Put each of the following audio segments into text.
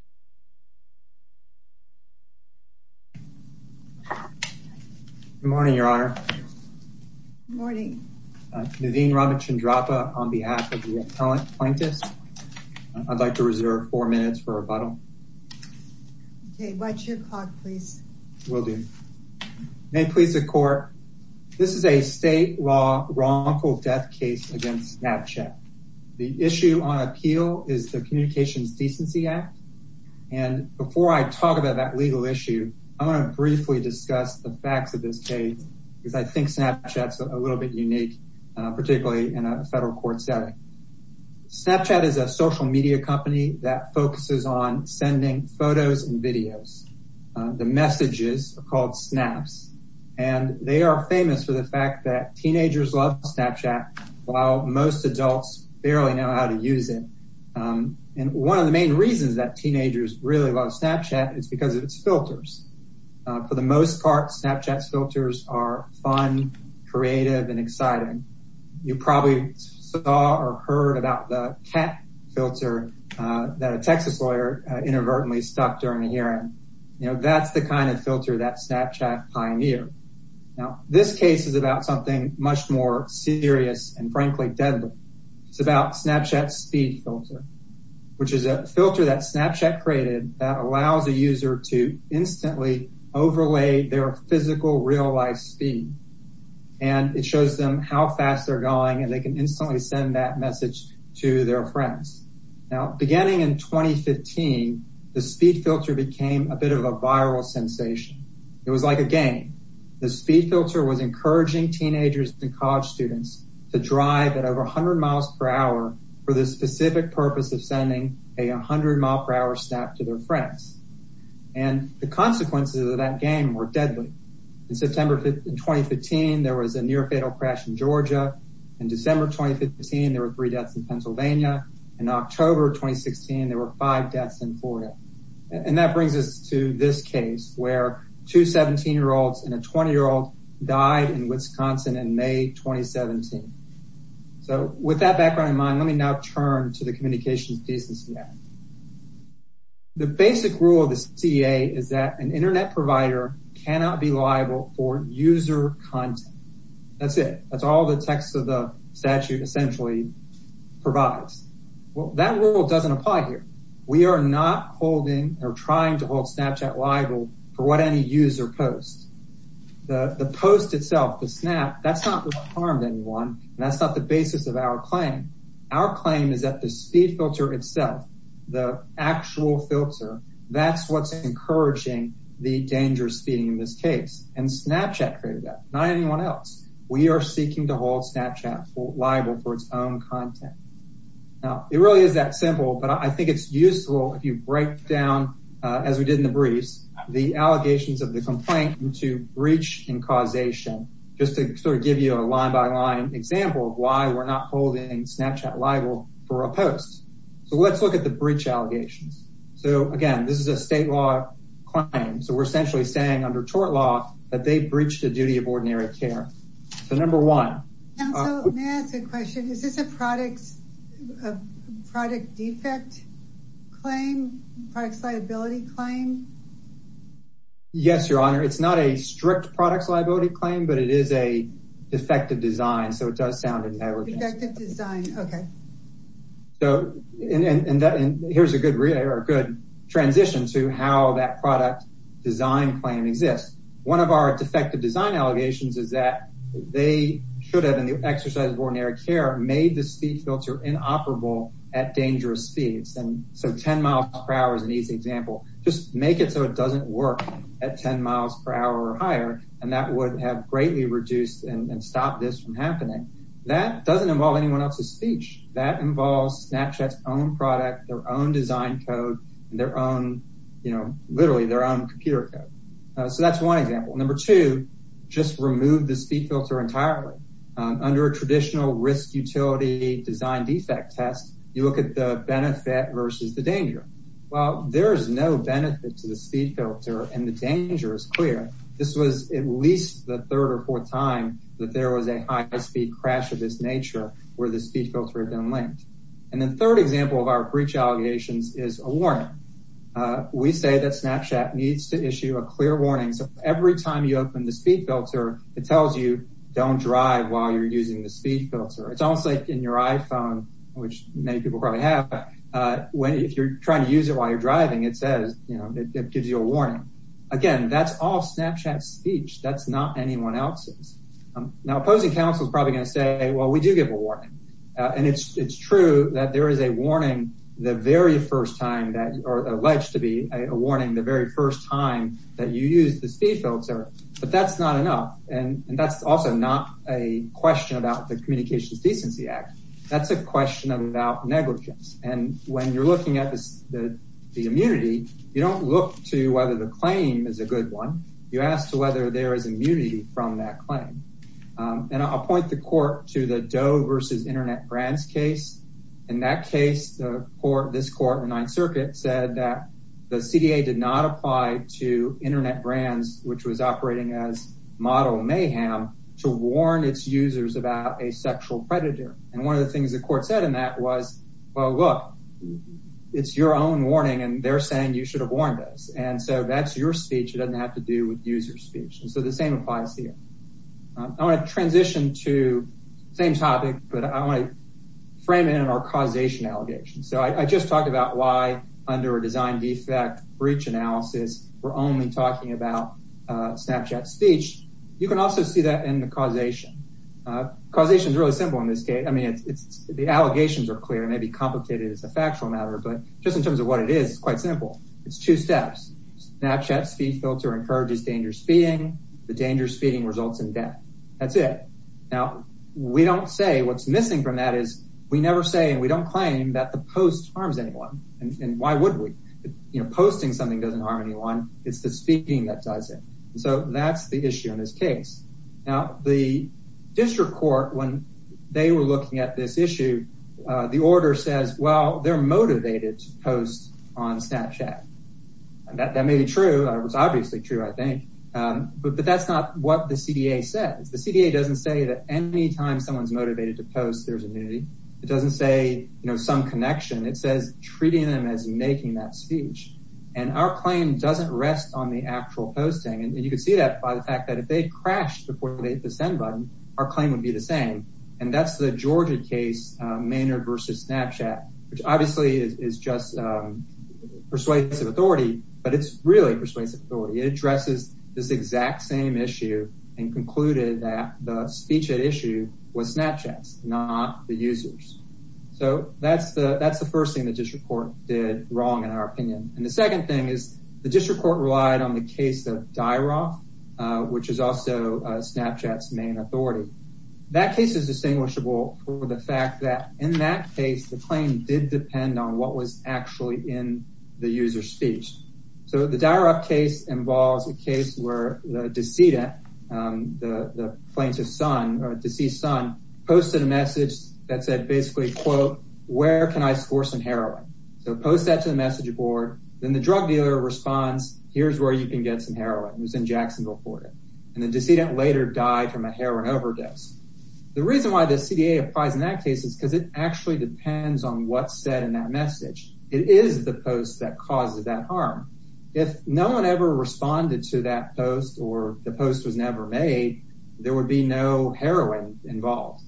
Naveen Ramachandrapa v. Snap, Inc. Naveen Ramachandrapa v. Snap, Inc. Snapchat is a social media company that focuses on sending photos and videos. The messages are called snaps. And they are famous for the fact that teenagers love Snapchat, while most adults barely know how to use it. And one of the main reasons that teenagers really love Snapchat is because of its filters. For the most part, Snapchat's filters are fun, creative, and exciting. You probably saw or heard about the cat filter that a Texas lawyer inadvertently stuck during a hearing. You know, that's the kind of filter that Snapchat pioneered. Now, this case is about something much more serious and, frankly, deadly. It's about Snapchat's speed filter, which is a filter that Snapchat created that allows a user to instantly overlay their physical, real-life speed. And it shows them how fast they're going, and they can instantly send that message to their friends. Now, beginning in 2015, the speed filter became a bit of a viral sensation. It was like a game. The speed filter was encouraging teenagers and college students to drive at over 100 miles per hour for the specific purpose of sending a 100-mile-per-hour snap to their friends. And the consequences of that game were deadly. In 2015, there was a near-fatal crash in Georgia. In December 2015, there were three deaths in Pennsylvania. In October 2016, there were five deaths in Florida. And that brings us to this case where two 17-year-olds and a 20-year-old died in Wisconsin in May 2017. So with that background in mind, let me now turn to the communications decency act. The basic rule of the CEA is that an Internet provider cannot be liable for user content. That's it. That's all the text of the statute essentially provides. Well, that rule doesn't apply here. We are not holding or trying to hold Snapchat liable for what any user posts. The post itself, the snap, that's not harmed anyone, and that's not the basis of our claim. Our claim is that the speed filter itself, the actual filter, that's what's encouraging the dangerous speeding in this case. And Snapchat created that, not anyone else. We are seeking to hold Snapchat liable for its own content. Now, it really is that simple, but I think it's useful if you break down, as we did in the briefs, the allegations of the complaint into breach and causation, just to sort of give you a line-by-line example of why we're not holding Snapchat liable for a post. So let's look at the breach allegations. So again, this is a state law claim. So we're essentially saying under tort law that they breached the duty of ordinary care. So number one. May I ask a question? Is this a product defect claim, products liability claim? Yes, Your Honor. It's not a strict products liability claim, but it is a defective design, so it does sound inevitable. Defective design, okay. So here's a good transition to how that product design claim exists. One of our defective design allegations is that they should have, in the exercise of ordinary care, made the speed filter inoperable at dangerous speeds. So 10 miles per hour is an easy example. Just make it so it doesn't work at 10 miles per hour or higher, and that would have greatly reduced and stopped this from happening. That doesn't involve anyone else's speech. That involves Snapchat's own product, their own design code, and their own, you know, literally their own computer code. So that's one example. Number two, just remove the speed filter entirely. Under a traditional risk utility design defect test, you look at the benefit versus the danger. Well, there is no benefit to the speed filter, and the danger is clear. This was at least the third or fourth time that there was a high-speed crash of this nature where the speed filter had been linked. And the third example of our breach allegations is a warning. We say that Snapchat needs to issue a clear warning, so every time you open the speed filter, it tells you don't drive while you're using the speed filter. It's almost like in your iPhone, which many people probably have. If you're trying to use it while you're driving, it says, you know, it gives you a warning. Again, that's all Snapchat's speech. That's not anyone else's. Now, opposing counsel is probably going to say, well, we do give a warning, and it's true that there is a warning the very first time that or alleged to be a warning the very first time that you use the speed filter, but that's not enough, and that's also not a question about the Communications Decency Act. That's a question about negligence, and when you're looking at the immunity, you don't look to whether the claim is a good one. You ask to whether there is immunity from that claim, and I'll point the court to the Doe versus Internet Brands case. In that case, this court in the Ninth Circuit said that the CDA did not apply to Internet Brands, which was operating as model mayhem, to warn its users about a sexual predator, and one of the things the court said in that was, well, look, it's your own warning, and they're saying you should have warned us, and so that's your speech. It doesn't have to do with user speech, and so the same applies here. I want to transition to the same topic, but I want to frame it in our causation allegations, so I just talked about why under a design defect breach analysis we're only talking about Snapchat speech. You can also see that in the causation. Causation is really simple in this case. I mean, the allegations are clear. It may be complicated as a factual matter, but just in terms of what it is, it's quite simple. It's two steps. Snapchat's speed filter encourages dangerous feeding. The dangerous feeding results in death. That's it. Now, we don't say what's missing from that is we never say and we don't claim that the post harms anyone, and why would we? Posting something doesn't harm anyone. It's the speaking that does it, and so that's the issue in this case. Now, the district court, when they were looking at this issue, the order says, well, they're motivated to post on Snapchat, and that may be true. It's obviously true, I think, but that's not what the CDA says. The CDA doesn't say that any time someone's motivated to post, there's immunity. It doesn't say, you know, some connection. It says treating them as making that speech, and our claim doesn't rest on the actual posting, and you can see that by the fact that if they crashed before they hit the send button, our claim would be the same, and that's the Georgia case, Maynard versus Snapchat, which obviously is just persuasive authority, but it's really persuasive authority. It addresses this exact same issue and concluded that the speech at issue was Snapchat's, not the user's. So that's the first thing the district court did wrong, in our opinion, and the second thing is the district court relied on the case of Dyroff, which is also Snapchat's main authority. That case is distinguishable for the fact that in that case the claim did depend on what was actually in the user's speech. So the Dyroff case involves a case where the decedent, the plaintiff's son, deceased son, posted a message that said basically, quote, where can I score some heroin? So post that to the message board, then the drug dealer responds, here's where you can get some heroin. And the decedent later died from a heroin overdose. The reason why the CDA applies in that case is because it actually depends on what's said in that message. It is the post that causes that harm. If no one ever responded to that post or the post was never made, there would be no heroin involved.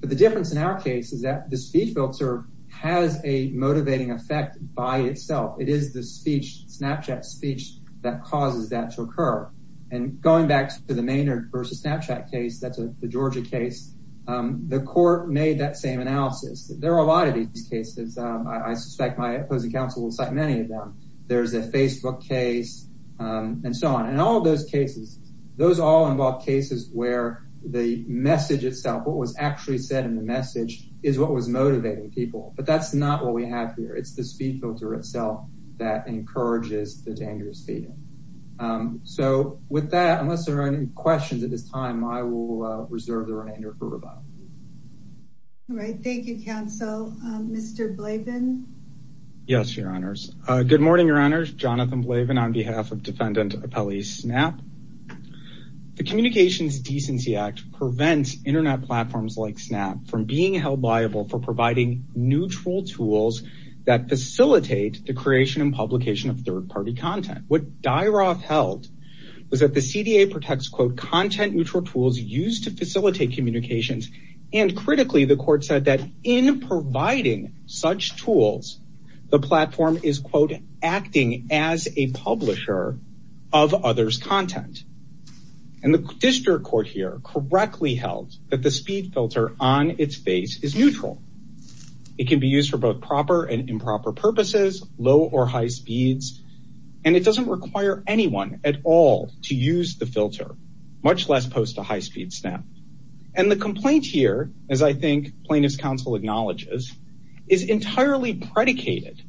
But the difference in our case is that the speech filter has a motivating effect by itself. It is the speech, Snapchat's speech, that causes that to occur. And going back to the Maynard versus Snapchat case, that's the Georgia case, the court made that same analysis. There are a lot of these cases. I suspect my opposing counsel will cite many of them. There's a Facebook case and so on, and all those cases, those all involve cases where the message itself, what was actually said in the message is what was motivating people, but that's not what we have here. It's the speech filter itself that encourages the dangerous behavior. So with that, unless there are any questions at this time, I will reserve the remainder for rebuttal. All right, thank you, counsel. Mr. Blavin. Yes, Your Honors. Good morning, Your Honors. Jonathan Blavin on behalf of Defendant Appellee Snap. The Communications Decency Act prevents Internet platforms like Snap from being held liable for providing neutral tools that facilitate the creation and publication of third-party content. What Dyroff held was that the CDA protects, quote, content neutral tools used to facilitate communications. And critically, the court said that in providing such tools, the platform is, quote, acting as a publisher of others' content. And the district court here correctly held that the speed filter on its face is neutral. It can be used for both proper and improper purposes, low or high speeds, and it doesn't require anyone at all to use the filter, much less post a high-speed snap. And the complaint here, as I think plaintiff's counsel acknowledges, is entirely predicated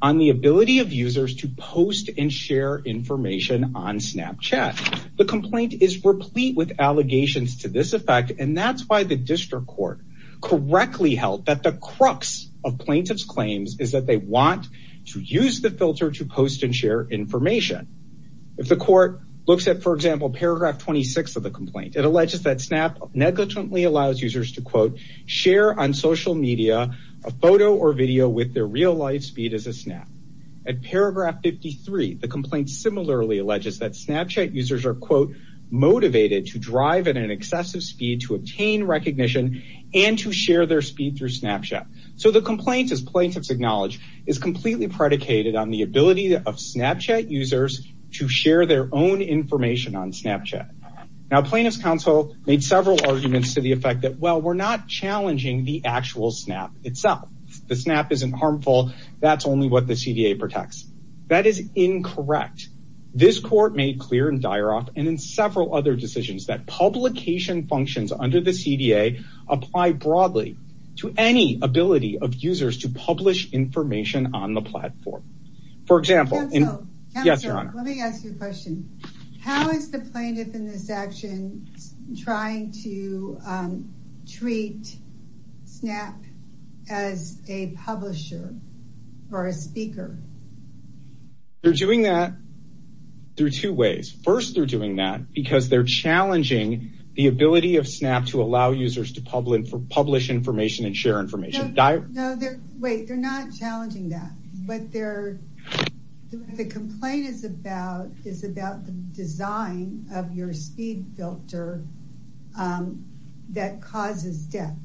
on the ability of users to post and share information on Snapchat. The complaint is replete with allegations to this effect, and that's why the district court correctly held that the crux of plaintiff's claims is that they want to use the filter to post and share information. If the court looks at, for example, paragraph 26 of the complaint, it alleges that Snap negligently allows users to, quote, share on social media a photo or video with their real-life speed as a Snap. At paragraph 53, the complaint similarly alleges that Snapchat users are, quote, motivated to drive at an excessive speed to obtain recognition and to share their speed through Snapchat. So the complaint, as plaintiffs acknowledge, is completely predicated on the ability of Snapchat users to share their own information on Snapchat. Now, plaintiff's counsel made several arguments to the effect that, well, we're not challenging the actual Snap itself. The Snap isn't harmful. That's only what the CDA protects. That is incorrect. This court made clear in Dyaroff and in several other decisions that publication functions under the CDA apply broadly to any ability of users to publish information on the platform. For example, let me ask you a question. How is the plaintiff in this action trying to treat Snap as a publisher or a speaker? They're doing that through two ways. First, they're doing that because they're challenging the ability of Snap to allow users to publish information and share information. Wait, they're not challenging that. The complaint is about the design of your speed filter that causes death.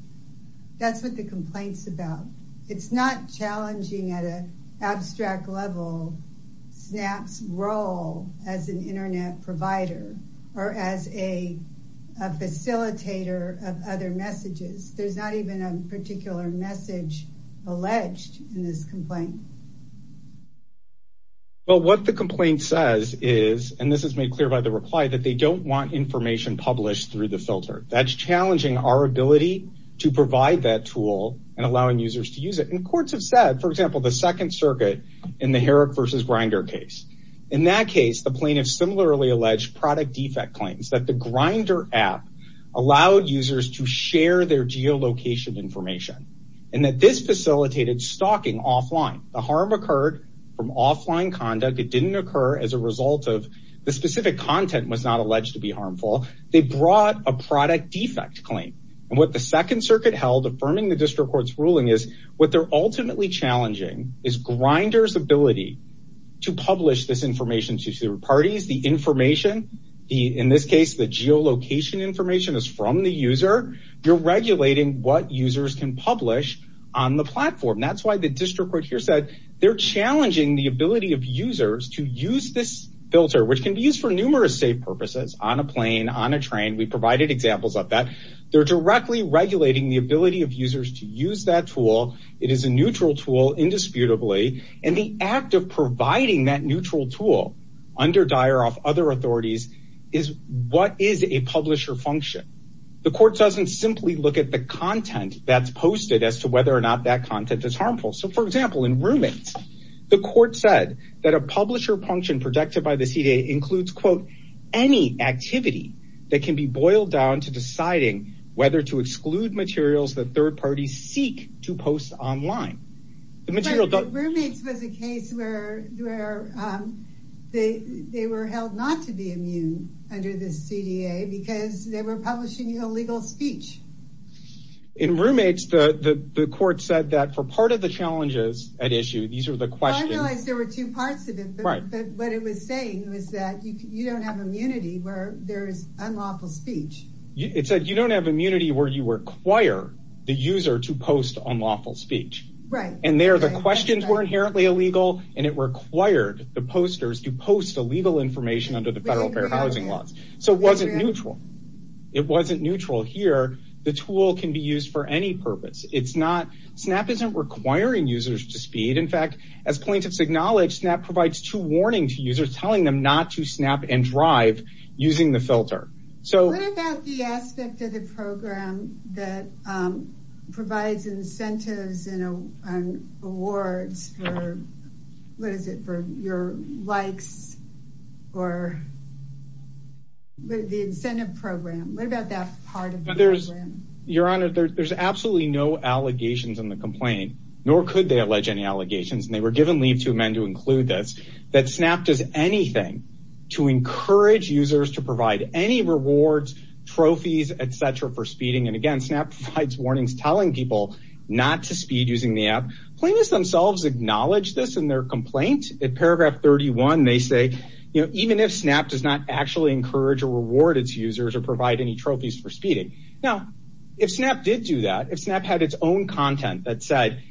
That's what the complaint's about. It's not challenging at an abstract level Snap's role as an Internet provider or as a facilitator of other messages. There's not even a particular message alleged in this complaint. Well, what the complaint says is, and this is made clear by the reply, that they don't want information published through the filter. That's challenging our ability to provide that tool and allowing users to use it. And courts have said, for example, the Second Circuit in the Herrick versus Grindr case. In that case, the plaintiff similarly alleged product defect claims that the Grindr app allowed users to share their geolocation information. And that this facilitated stalking offline. The harm occurred from offline conduct. It didn't occur as a result of the specific content was not alleged to be harmful. They brought a product defect claim. And what the Second Circuit held affirming the district court's ruling is what they're ultimately challenging is Grindr's ability to publish this information to third parties. The information, in this case, the geolocation information is from the user. You're regulating what users can publish on the platform. That's why the district court here said they're challenging the ability of users to use this filter, which can be used for numerous safe purposes on a plane, on a train. We provided examples of that. They're directly regulating the ability of users to use that tool. It is a neutral tool, indisputably. And the act of providing that neutral tool under Dyer off other authorities is what is a publisher function. The court doesn't simply look at the content that's posted as to whether or not that content is harmful. So, for example, in roommates, the court said that a publisher function protected by the CDA includes, quote, any activity that can be boiled down to deciding whether to exclude materials that third parties seek to post online. The material roommates was a case where they were held not to be immune under the CDA because they were publishing illegal speech. In roommates, the court said that for part of the challenges at issue, these are the questions. I realized there were two parts of it, but what it was saying was that you don't have immunity where there is unlawful speech. It said you don't have immunity where you require the user to post unlawful speech. Right. And there the questions were inherently illegal, and it required the posters to post illegal information under the federal fair housing laws. So it wasn't neutral. It wasn't neutral here. The tool can be used for any purpose. It's not. Snap isn't requiring users to speed. In fact, as plaintiffs acknowledge that provides to warning to users, telling them not to snap and drive using the filter. So what about the aspect of the program that provides incentives and awards? Or what is it for your likes or the incentive program? What about that part? But there's your honor. There's absolutely no allegations in the complaint, nor could they allege any allegations. And they were given leave to amend to include this, that Snap does anything to encourage users to provide any rewards, trophies, et cetera, for speeding. And, again, Snap provides warnings telling people not to speed using the app. Plaintiffs themselves acknowledge this in their complaint. In paragraph 31, they say, you know, even if Snap does not actually encourage or reward its users or provide any trophies for speeding. Now, if Snap did do that, if Snap had its own content that said,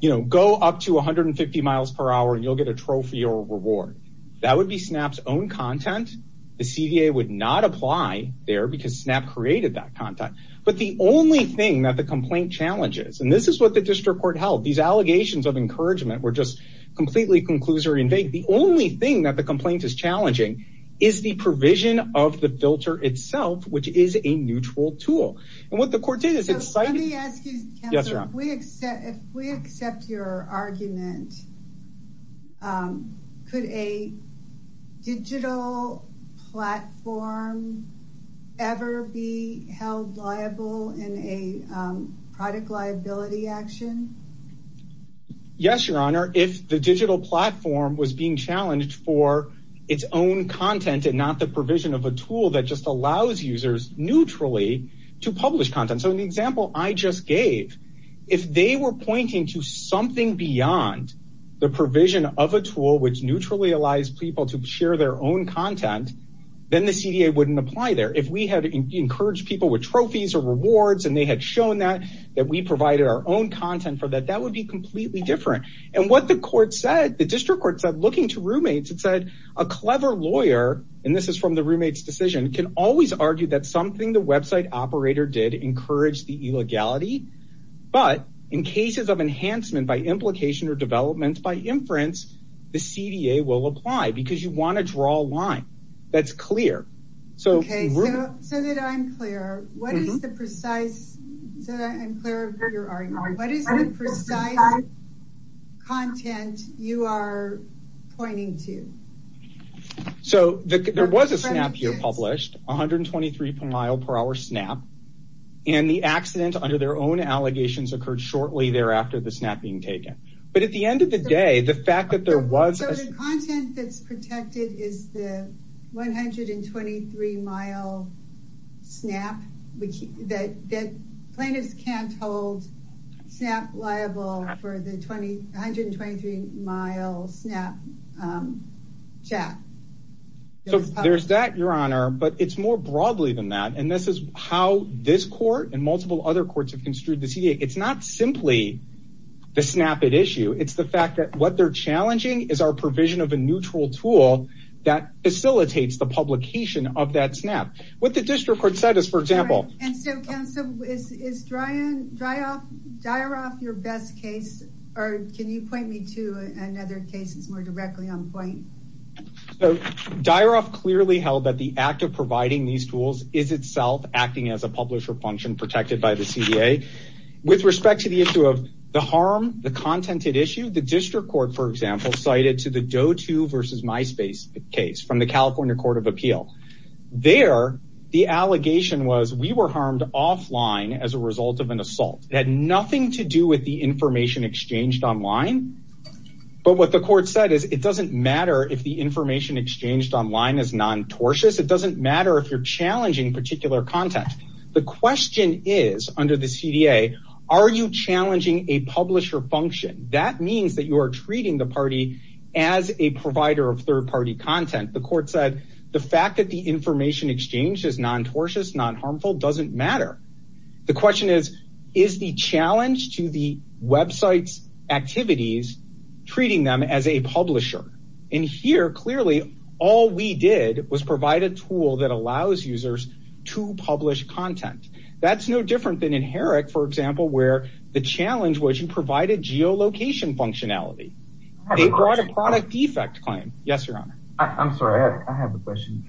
you know, go up to 150 miles per hour and you'll get a trophy or a reward, that would be Snap's own content. The CDA would not apply there because Snap created that content. But the only thing that the complaint challenges, and this is what the district court held, these allegations of encouragement were just completely conclusory and vague. The only thing that the complaint is challenging is the provision of the filter itself, which is a neutral tool. And what the court did is. Let me ask you, if we accept your argument. Could a digital platform ever be held liable in a product liability action? Yes, Your Honor. If the digital platform was being challenged for its own content and not the provision of a tool that just allows users neutrally to publish content. So, in the example I just gave, if they were pointing to something beyond the provision of a tool which neutrally allows people to share their own content, then the CDA wouldn't apply there. If we had encouraged people with trophies or rewards and they had shown that, that we provided our own content for that, that would be completely different. And what the court said, the district court said, looking to roommates, it said, a clever lawyer, and this is from the roommate's decision, can always argue that something the website operator did encouraged the illegality. But in cases of enhancement by implication or development by inference, the CDA will apply because you want to draw a line that's clear. Okay, so that I'm clear, what is the precise content you are pointing to? So, there was a snap year published, 123 per mile per hour snap, and the accident under their own allegations occurred shortly thereafter, the snap being taken. But at the end of the day, the fact that there was... So, the content that's protected is the 123 mile snap, that plaintiffs can't hold snap liable for the 123 mile snap chat. So, there's that, your honor, but it's more broadly than that. And this is how this court and multiple other courts have construed the CDA. It's not simply the snap at issue. It's the fact that what they're challenging is our provision of a neutral tool that facilitates the publication of that snap. What the district court said is, for example... And so, counsel, is Dyeroff your best case, or can you point me to another case that's more directly on point? So, Dyeroff clearly held that the act of providing these tools is itself acting as a publisher function protected by the CDA. With respect to the issue of the harm, the content at issue, the district court, for example, cited to the DOTU versus MySpace case from the California Court of Appeal. There, the allegation was, we were harmed offline as a result of an assault. It had nothing to do with the information exchanged online. But what the court said is, it doesn't matter if the information exchanged online is non-tortious. It doesn't matter if you're challenging particular content. The question is, under the CDA, are you challenging a publisher function? That means that you are treating the party as a provider of third-party content. The court said, the fact that the information exchanged is non-tortious, non-harmful, doesn't matter. The question is, is the challenge to the website's activities treating them as a publisher? And here, clearly, all we did was provide a tool that allows users to publish content. That's no different than in Herrick, for example, where the challenge was you provided geolocation functionality. They brought a product defect claim. Yes, Your Honor. I'm sorry, I have a question.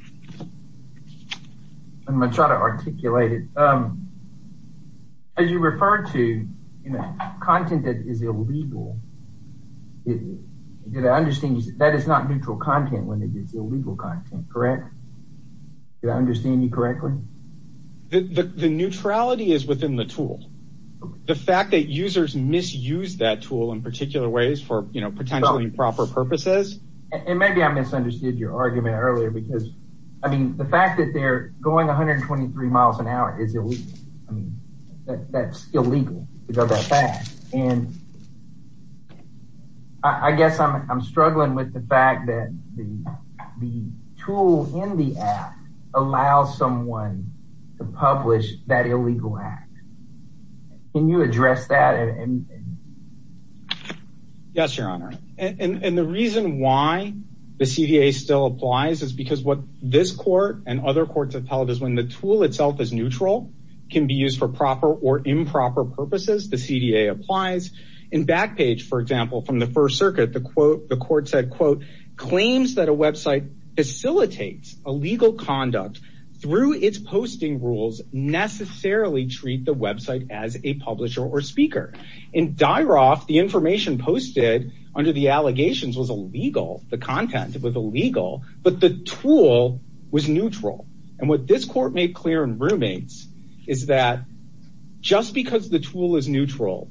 I'm going to try to articulate it. As you refer to content that is illegal, that is not neutral content when it is illegal content, correct? Did I understand you correctly? The neutrality is within the tool. The fact that users misuse that tool in particular ways for potentially improper purposes? Maybe I misunderstood your argument earlier. The fact that they're going 123 miles an hour is illegal. That's illegal to go that fast. I guess I'm struggling with the fact that the tool in the app allows someone to publish that illegal act. Can you address that? Yes, Your Honor. And the reason why the CDA still applies is because what this court and other courts have told is when the tool itself is neutral, it can be used for proper or improper purposes. The CDA applies. In Backpage, for example, from the First Circuit, the court said, quote, claims that a website facilitates illegal conduct through its posting rules necessarily treat the website as a publisher or speaker. In Dyroff, the information posted under the allegations was illegal. The content was illegal, but the tool was neutral. And what this court made clear in Roommates is that just because the tool is neutral,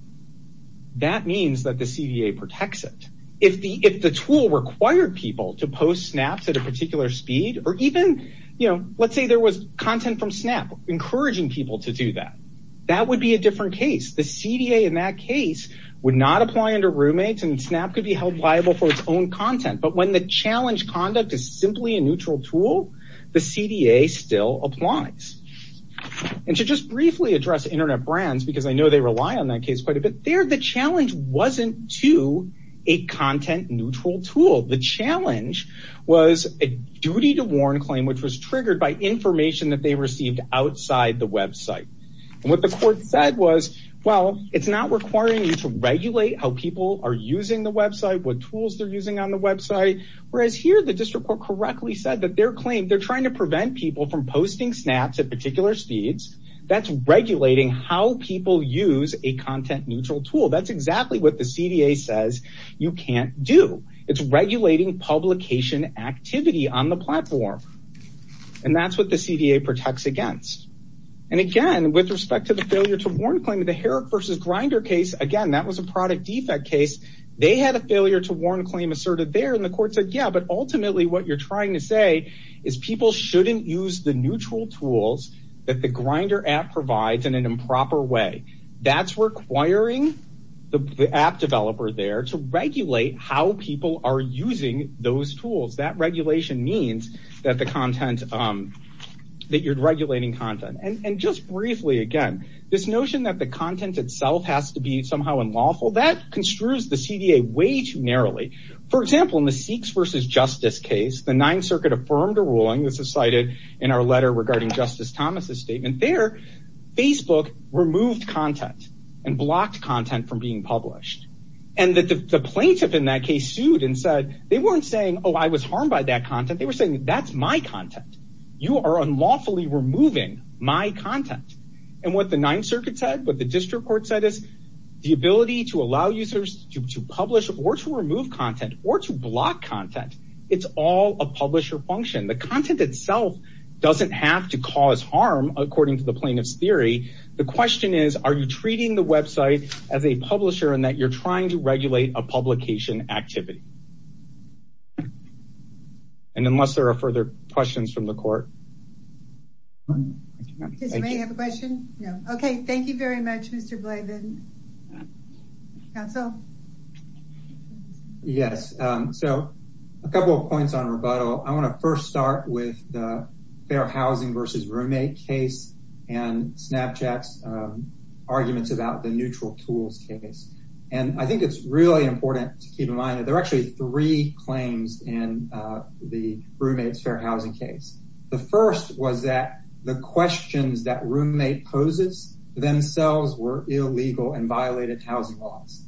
that means that the CDA protects it. If the tool required people to post snaps at a particular speed or even, you know, let's say there was content from Snap encouraging people to do that, that would be a different case. The CDA in that case would not apply under Roommates, and Snap could be held liable for its own content. But when the challenge conduct is simply a neutral tool, the CDA still applies. And to just briefly address internet brands, because I know they rely on that case quite a bit, there the challenge wasn't to a content-neutral tool. The challenge was a duty-to-warn claim, which was triggered by information that they received outside the website. And what the court said was, well, it's not requiring you to regulate how people are using the website, what tools they're using on the website. Whereas here, the district court correctly said that their claim, they're trying to prevent people from posting snaps at particular speeds. That's regulating how people use a content-neutral tool. That's exactly what the CDA says you can't do. It's regulating publication activity on the platform. And that's what the CDA protects against. And again, with respect to the failure-to-warn claim, the Herrick v. Grindr case, again, that was a product defect case. They had a failure-to-warn claim asserted there, and the court said, yeah, but ultimately what you're trying to say is people shouldn't use the neutral tools that the Grindr app provides in an improper way. That's requiring the app developer there to regulate how people are using those tools. That regulation means that you're regulating content. And just briefly, again, this notion that the content itself has to be somehow unlawful, that construes the CDA way too narrowly. For example, in the Sikhs v. Justice case, the Ninth Circuit affirmed a ruling. This is cited in our letter regarding Justice Thomas' statement there. Facebook removed content and blocked content from being published. And the plaintiff in that case sued and said they weren't saying, oh, I was harmed by that content. They were saying that's my content. You are unlawfully removing my content. And what the Ninth Circuit said, what the district court said is the ability to allow users to publish or to remove content or to block content, it's all a publisher function. The content itself doesn't have to cause harm, according to the plaintiff's theory. The question is, are you treating the website as a publisher in that you're trying to regulate a publication activity? And unless there are further questions from the court. Does anybody have a question? Okay, thank you very much, Mr. Blavin. Counsel? Yes. So a couple of points on rebuttal. I want to first start with the Fair Housing versus Roommate case and Snapchat's arguments about the Neutral Tools case. And I think it's really important to keep in mind that there are actually three claims in the Roommate's Fair Housing case. The first was that the questions that Roommate poses themselves were illegal and violated housing laws.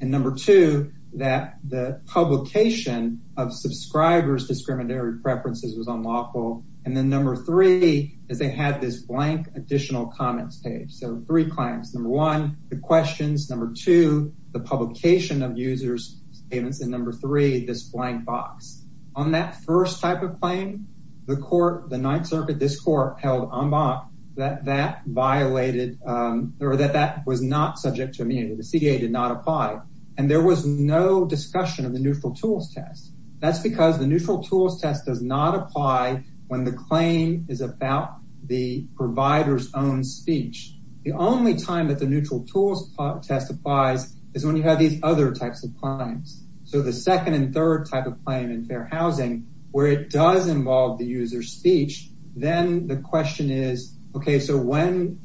And number two, that the publication of subscribers' discriminatory preferences was unlawful. And then number three, is they had this blank additional comments page. So three claims. Number one, the questions. Number two, the publication of users' statements. And number three, this blank box. On that first type of claim, the court, the Ninth Circuit, this court, held en bas that that violated or that that was not subject to amendment. The CA did not apply. And there was no discussion of the Neutral Tools test. That's because the Neutral Tools test does not apply when the claim is about the provider's own speech. The only time that the Neutral Tools test applies is when you have these other types of claims. So the second and third type of claim in Fair Housing, where it does involve the user's speech, then the question is, okay, so when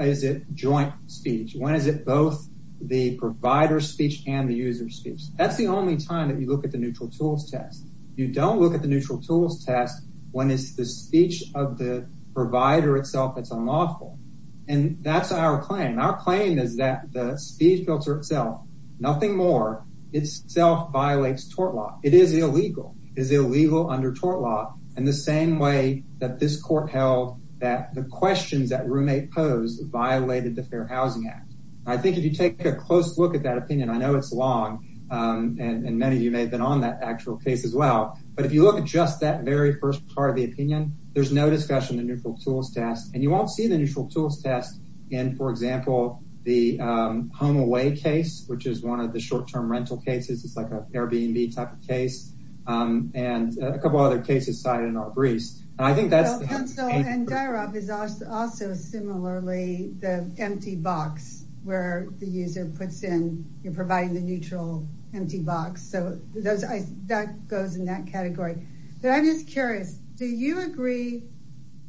is it joint speech? When is it both the provider's speech and the user's speech? That's the only time that you look at the Neutral Tools test. You don't look at the Neutral Tools test when it's the speech of the provider itself that's unlawful. And that's our claim. Our claim is that the speech filter itself, nothing more, itself violates tort law. It is illegal. It is illegal under tort law in the same way that this court held that the questions that roommate posed violated the Fair Housing Act. I think if you take a close look at that opinion, I know it's long, and many of you may have been on that actual case as well. But if you look at just that very first part of the opinion, there's no discussion of the Neutral Tools test. And you won't see the Neutral Tools test in, for example, the home away case, which is one of the short-term rental cases. It's like an Airbnb type of case. And a couple other cases cited in our briefs. And Dairov is also similarly the empty box where the user puts in, you're providing the neutral empty box. So that goes in that category. But I'm just curious, do you agree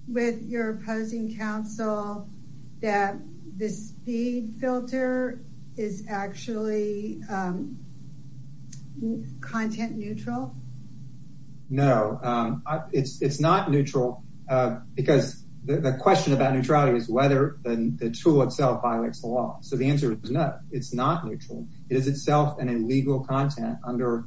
with your opposing counsel that the speed filter is actually content neutral? No, it's not neutral because the question about neutrality is whether the tool itself violates the law. So the answer is no, it's not neutral. It is itself an illegal content under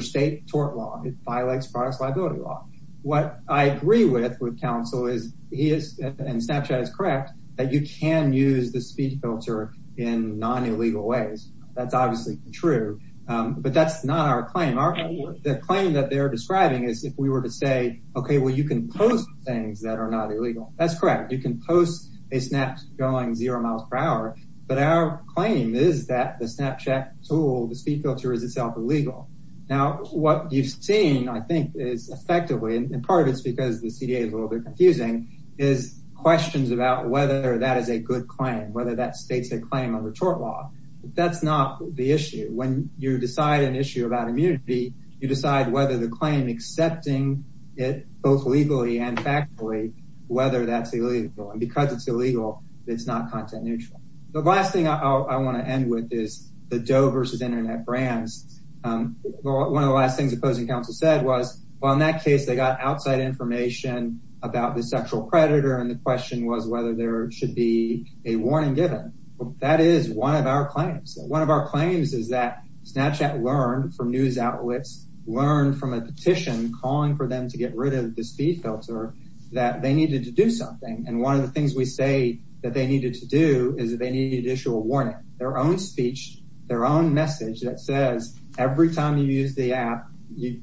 state tort law. It violates products liability law. What I agree with with counsel is, and Snapchat is correct, that you can use the speed filter in non-illegal ways. That's obviously true. But that's not our claim. The claim that they're describing is if we were to say, okay, well, you can post things that are not illegal. That's correct. You can post a Snap going zero miles per hour. But our claim is that the Snapchat tool, the speed filter, is itself illegal. Now, what you've seen, I think, is effectively, and part of it's because the CDA is a little bit confusing, is questions about whether that is a good claim. Whether that states a claim under tort law. That's not the issue. When you decide an issue about immunity, you decide whether the claim, accepting it both legally and factually, whether that's illegal. And because it's illegal, it's not content neutral. The last thing I want to end with is the Doe versus Internet brands. One of the last things opposing counsel said was, well, in that case, they got outside information about the sexual predator. And the question was whether there should be a warning given. That is one of our claims. One of our claims is that Snapchat learned from news outlets, learned from a petition calling for them to get rid of the speed filter, that they needed to do something. And one of the things we say that they needed to do is that they needed to issue a warning. Their own speech, their own message that says, every time you use the app,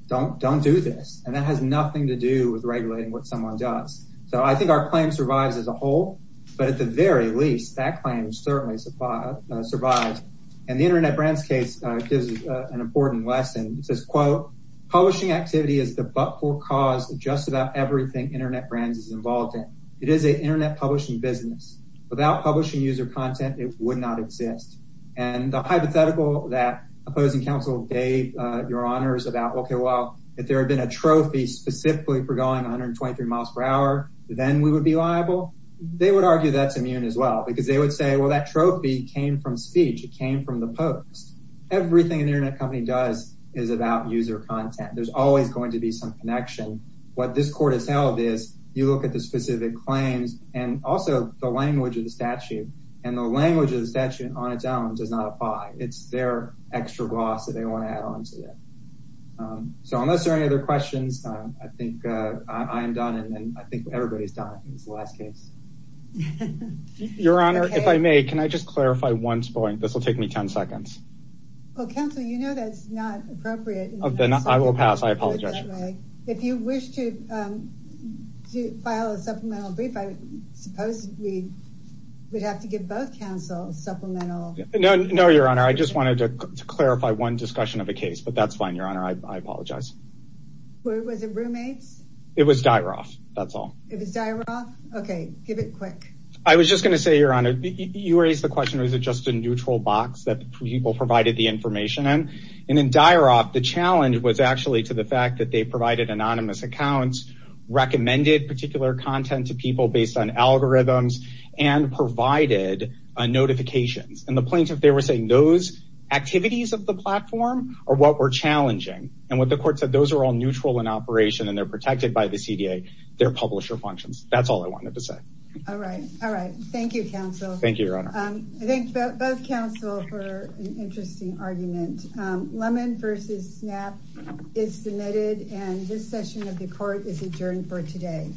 don't do this. And that has nothing to do with regulating what someone does. So I think our claim survives as a whole. But at the very least, that claim certainly survives. And the Internet brands case gives an important lesson. It says, quote, publishing activity is the butthole cause of just about everything Internet brands is involved in. It is an Internet publishing business. Without publishing user content, it would not exist. And the hypothetical that opposing counsel gave your honors about, okay, well, if there had been a trophy specifically for going 123 miles per hour, then we would be liable, they would argue that's immune as well. Because they would say, well, that trophy came from speech. It came from the post. Everything an Internet company does is about user content. There's always going to be some connection. What this court has held is, you look at the specific claims and also the language of the statute. And the language of the statute on its own does not apply. It's their extra gloss that they want to add on to that. So unless there are any other questions, I think I am done. And I think everybody's done. It's the last case. Your Honor, if I may, can I just clarify one point? This will take me ten seconds. Well, counsel, you know that's not appropriate. Then I will pass. I apologize. If you wish to file a supplemental brief, I suppose we would have to give both counsel supplemental. No, Your Honor. I just wanted to clarify one discussion of a case. But that's fine, Your Honor. I apologize. Was it roommates? It was Dyaroff. That's all. It was Dyaroff? Okay. Give it quick. I was just going to say, Your Honor, you raised the question, was it just a neutral box that people provided the information in? And in Dyaroff, the challenge was actually to the fact that they provided anonymous accounts, recommended particular content to people based on algorithms, and provided notifications. And the plaintiff there was saying those activities of the platform are what were challenging. And what the court said, those are all neutral in operation and they're protected by the CDA, their publisher functions. That's all I wanted to say. All right. Thank you, counsel. Thank you, Your Honor. I thank both counsel for an interesting argument. Lemon v. Snap is submitted, and this session of the court is adjourned for today.